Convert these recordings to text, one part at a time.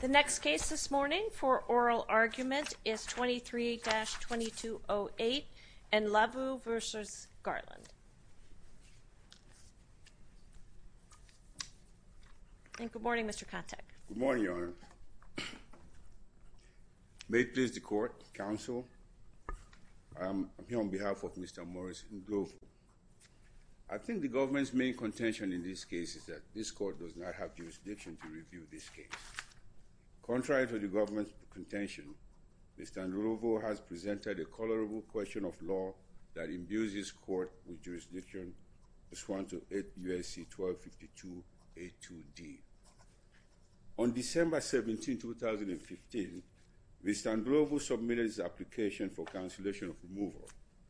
The next case this morning for oral argument is 23-2208, Ndlovu v. Garland. Good morning, Mr. Kontek. Good morning, Your Honor. May it please the Court, Counsel, I'm here on behalf of Mr. Morris Ndlovu. I think the government's main contention in this case is that this Court does not have jurisdiction to review this case. Contrary to the government's contention, Mr. Ndlovu has presented a colorable question of law that imbues this Court with jurisdiction, Oswanto 8 U.S.C. 1252 A.2.D. On December 17, 2015, Mr. Ndlovu submitted his application for cancellation of removal,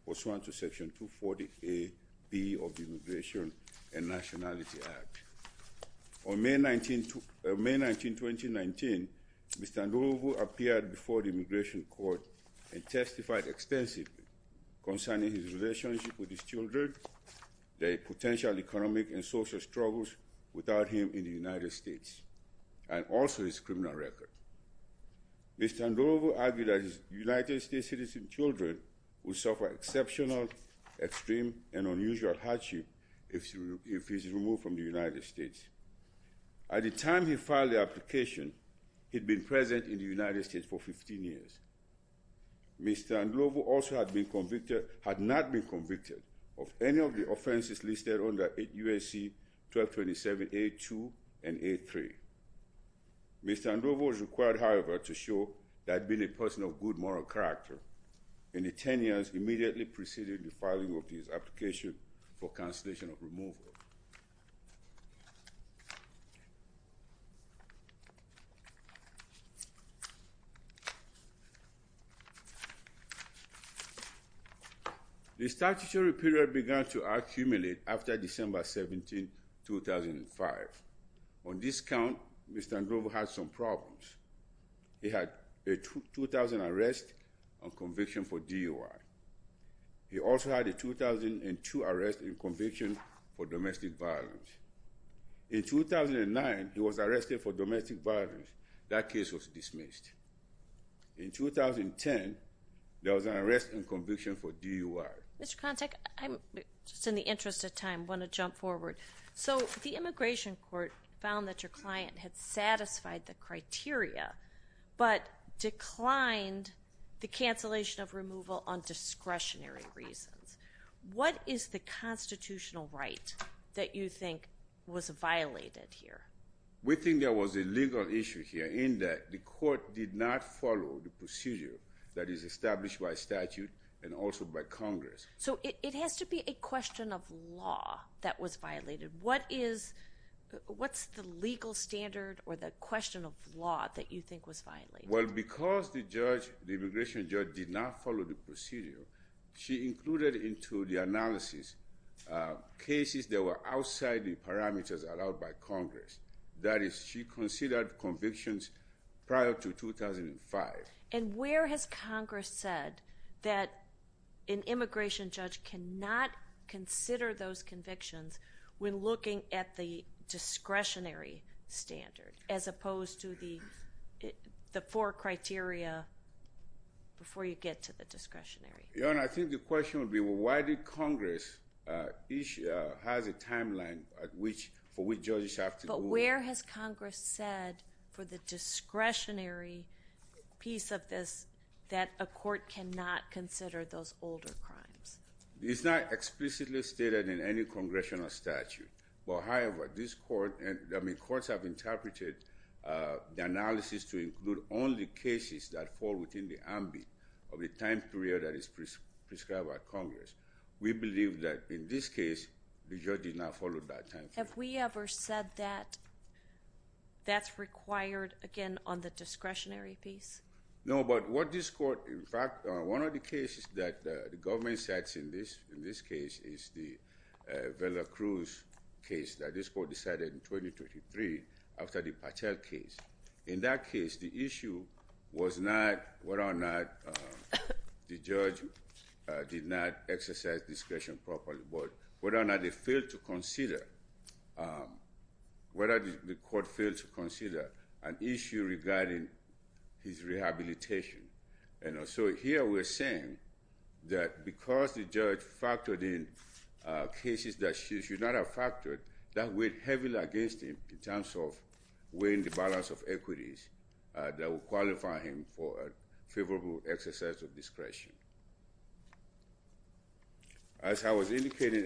Oswanto Section 240 A.B. of the Immigration and Nationality Act. On May 19, 2019, Mr. Ndlovu appeared before the Immigration Court and testified extensively concerning his relationship with his children, their potential economic and social struggles without him in the United States, and also his criminal record. Mr. Ndlovu argued that his United States citizen children would suffer exceptional, extreme, and unusual hardship if he is removed from the United States. At the time he filed the application, he'd been present in the United States for 15 years. Mr. Ndlovu also had not been convicted of any of the offenses listed under 8 U.S.C. 1227 A.2 and A.3. Mr. Ndlovu was required, however, to show that being a person of good moral character in the 10 years immediately preceding the filing of his application for cancellation of removal. The statutory period began to accumulate after December 17, 2005. On this count, Mr. Ndlovu had some problems. He had a 2000 arrest on conviction for DUI. He also had a 2002 arrest on conviction for domestic violence. In 2009, he was arrested for domestic violence. That case was dismissed. In 2010, there was an arrest on conviction for DUI. Mr. Kontak, just in the interest of time, I want to jump forward. So, the Immigration Court found that your client had satisfied the criteria, but declined the cancellation of removal on discretionary reasons. What is the constitutional right that you think was violated here? We think there was a legal issue here in that the court did not follow the procedure that is established by statute and also by Congress. So, it has to be a question of law that was violated. What is the legal standard or the question of law that you think was violated? Well, because the judge, the immigration judge, did not follow the procedure, she included into the analysis cases that were outside the parameters allowed by Congress. That is, she considered convictions prior to 2005. And where has Congress said that an immigration judge cannot consider those convictions when looking at the discretionary standard, as opposed to the four criteria before you get to the discretionary? Your Honor, I think the question would be, well, why did Congress, each has a timeline for which judges have to move? But where has Congress said, for the discretionary piece of this, that a court cannot consider those older crimes? It's not explicitly stated in any congressional statute. However, courts have interpreted the analysis to include only cases that fall within the ambit of the time period that is prescribed by Congress. We believe that in this case, the judge did not follow that time period. Have we ever said that that's required, again, on the discretionary piece? No, but what this court, in fact, one of the cases that the government sets in this case is the Vela Cruz case that this court decided in 2023 after the Patel case. In that case, the issue was not whether or not the judge did not exercise discretion properly, but whether or not they failed to consider, whether the court failed to consider an issue regarding his rehabilitation. And so here we're saying that because the judge factored in cases that she should not have factored, that went heavily against him in terms of weighing the balance of equities that would qualify him for a favorable exercise of discretion. As I was indicating,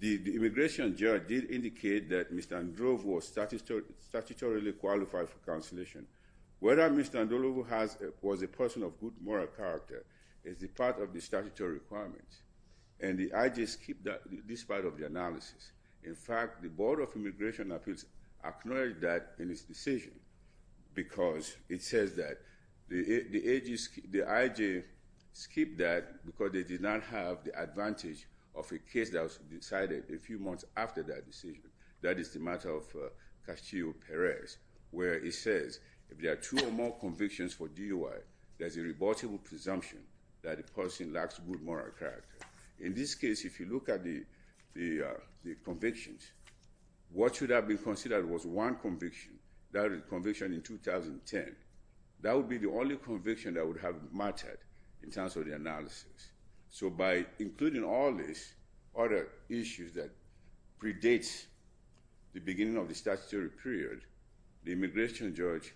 the immigration judge did indicate that Mr. Androvo was statutorily qualified for consolation. Whether Mr. Androvo was a person of good moral character is a part of the statutory requirements, and I just skipped this part of the analysis. In fact, the Board of Immigration Appeals acknowledged that in its decision, because it says that the IG skipped that because they did not have the advantage of a case that was decided a few months after that decision. That is the matter of Castillo-Perez, where it says, if there are two or more convictions for DUI, there's a rebuttable presumption that the person lacks good moral character. In this case, if you look at the convictions, what should have been considered was one conviction, that is conviction in 2010. That would be the only conviction that would have mattered in terms of the analysis. So by including all these other issues that predates the beginning of the statutory period, the immigration judge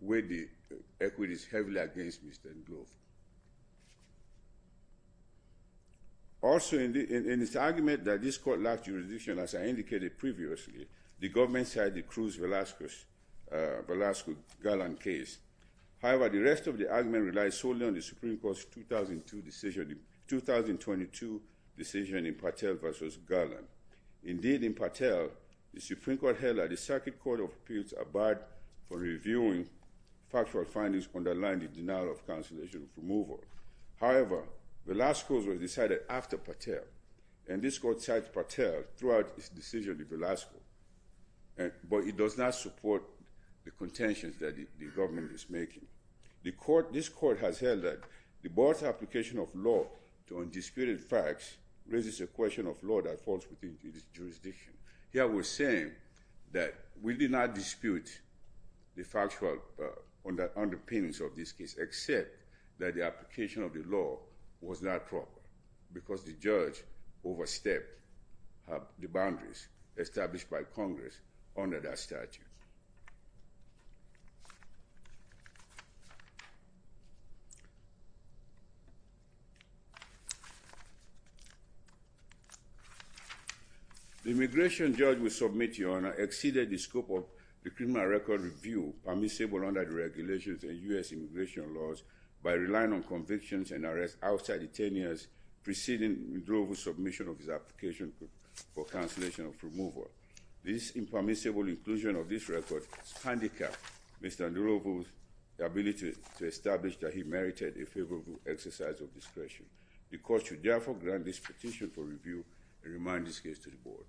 weighed the equities heavily against Mr. Androvo. Also, in its argument that this court lacked jurisdiction, as I indicated previously, the government signed the Cruz-Velasquez-Garland case. However, the rest of the argument relies solely on the Supreme Court's 2002 decision in Patel v. Garland. Indeed, in Patel, the Supreme Court held that the Circuit Court of Appeals abide for reviewing factual findings underlying the denial of cancellation of removal. However, Velasquez was decided after Patel, and this court cites Patel throughout its decision with Velasquez. But it does not support the contentions that the government is making. This court has held that the board's application of law to undisputed facts raises a question of law that falls within its jurisdiction. Here we're saying that we did not dispute the factual underpinnings of this case except that the application of the law was not proper because the judge overstepped the boundaries established by Congress under that statute. The immigration judge we submit to Your Honor exceeded the scope of the criminal record review permissible under the regulations of U.S. immigration laws by relying on convictions and arrests outside the 10 years preceding Androvo's submission of his application for cancellation of removal. This impermissible inclusion of this record handicapped Mr. Androvo's ability to establish that he merited a favorable exercise of discretion. The court should therefore grant this petition for review and remind this case to the board.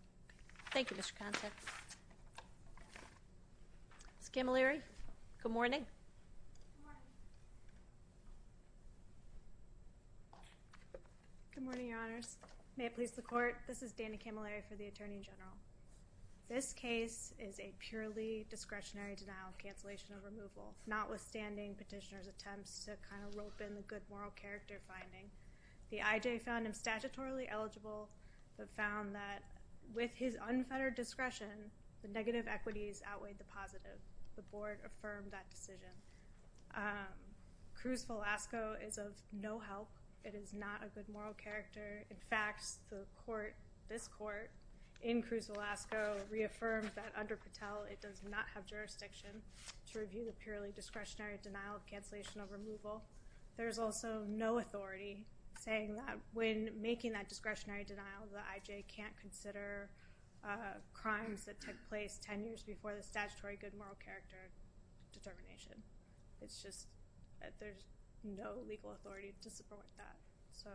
Thank you, Mr. Contex. Ms. Camilleri, good morning. Good morning. Good morning, Your Honors. May it please the court, this is Danny Camilleri for the Attorney General. This case is a purely discretionary denial of cancellation of removal, notwithstanding petitioner's attempts to kind of rope in the good moral character finding. The IJ found him statutorily eligible but found that with his unfettered discretion, the negative equities outweighed the positive. The board affirmed that decision. Cruz Velasco is of no help. It is not a good moral character. In fact, this court in Cruz Velasco reaffirmed that under Patel, it does not have jurisdiction to review the purely discretionary denial of cancellation of removal. There's also no authority saying that when making that discretionary denial, the IJ can't consider crimes that took place 10 years before the statutory good moral character determination. It's just that there's no legal authority to support that. So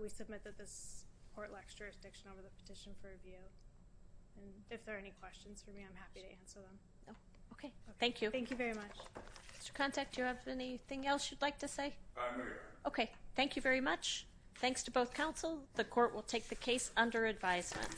we submit that this court lacks jurisdiction over the petition for review. And if there are any questions for me, I'm happy to answer them. Okay, thank you. Thank you very much. Mr. Contek, do you have anything else you'd like to say? I'm here. Okay, thank you very much. Thanks to both counsel. The court will take the case under advisement.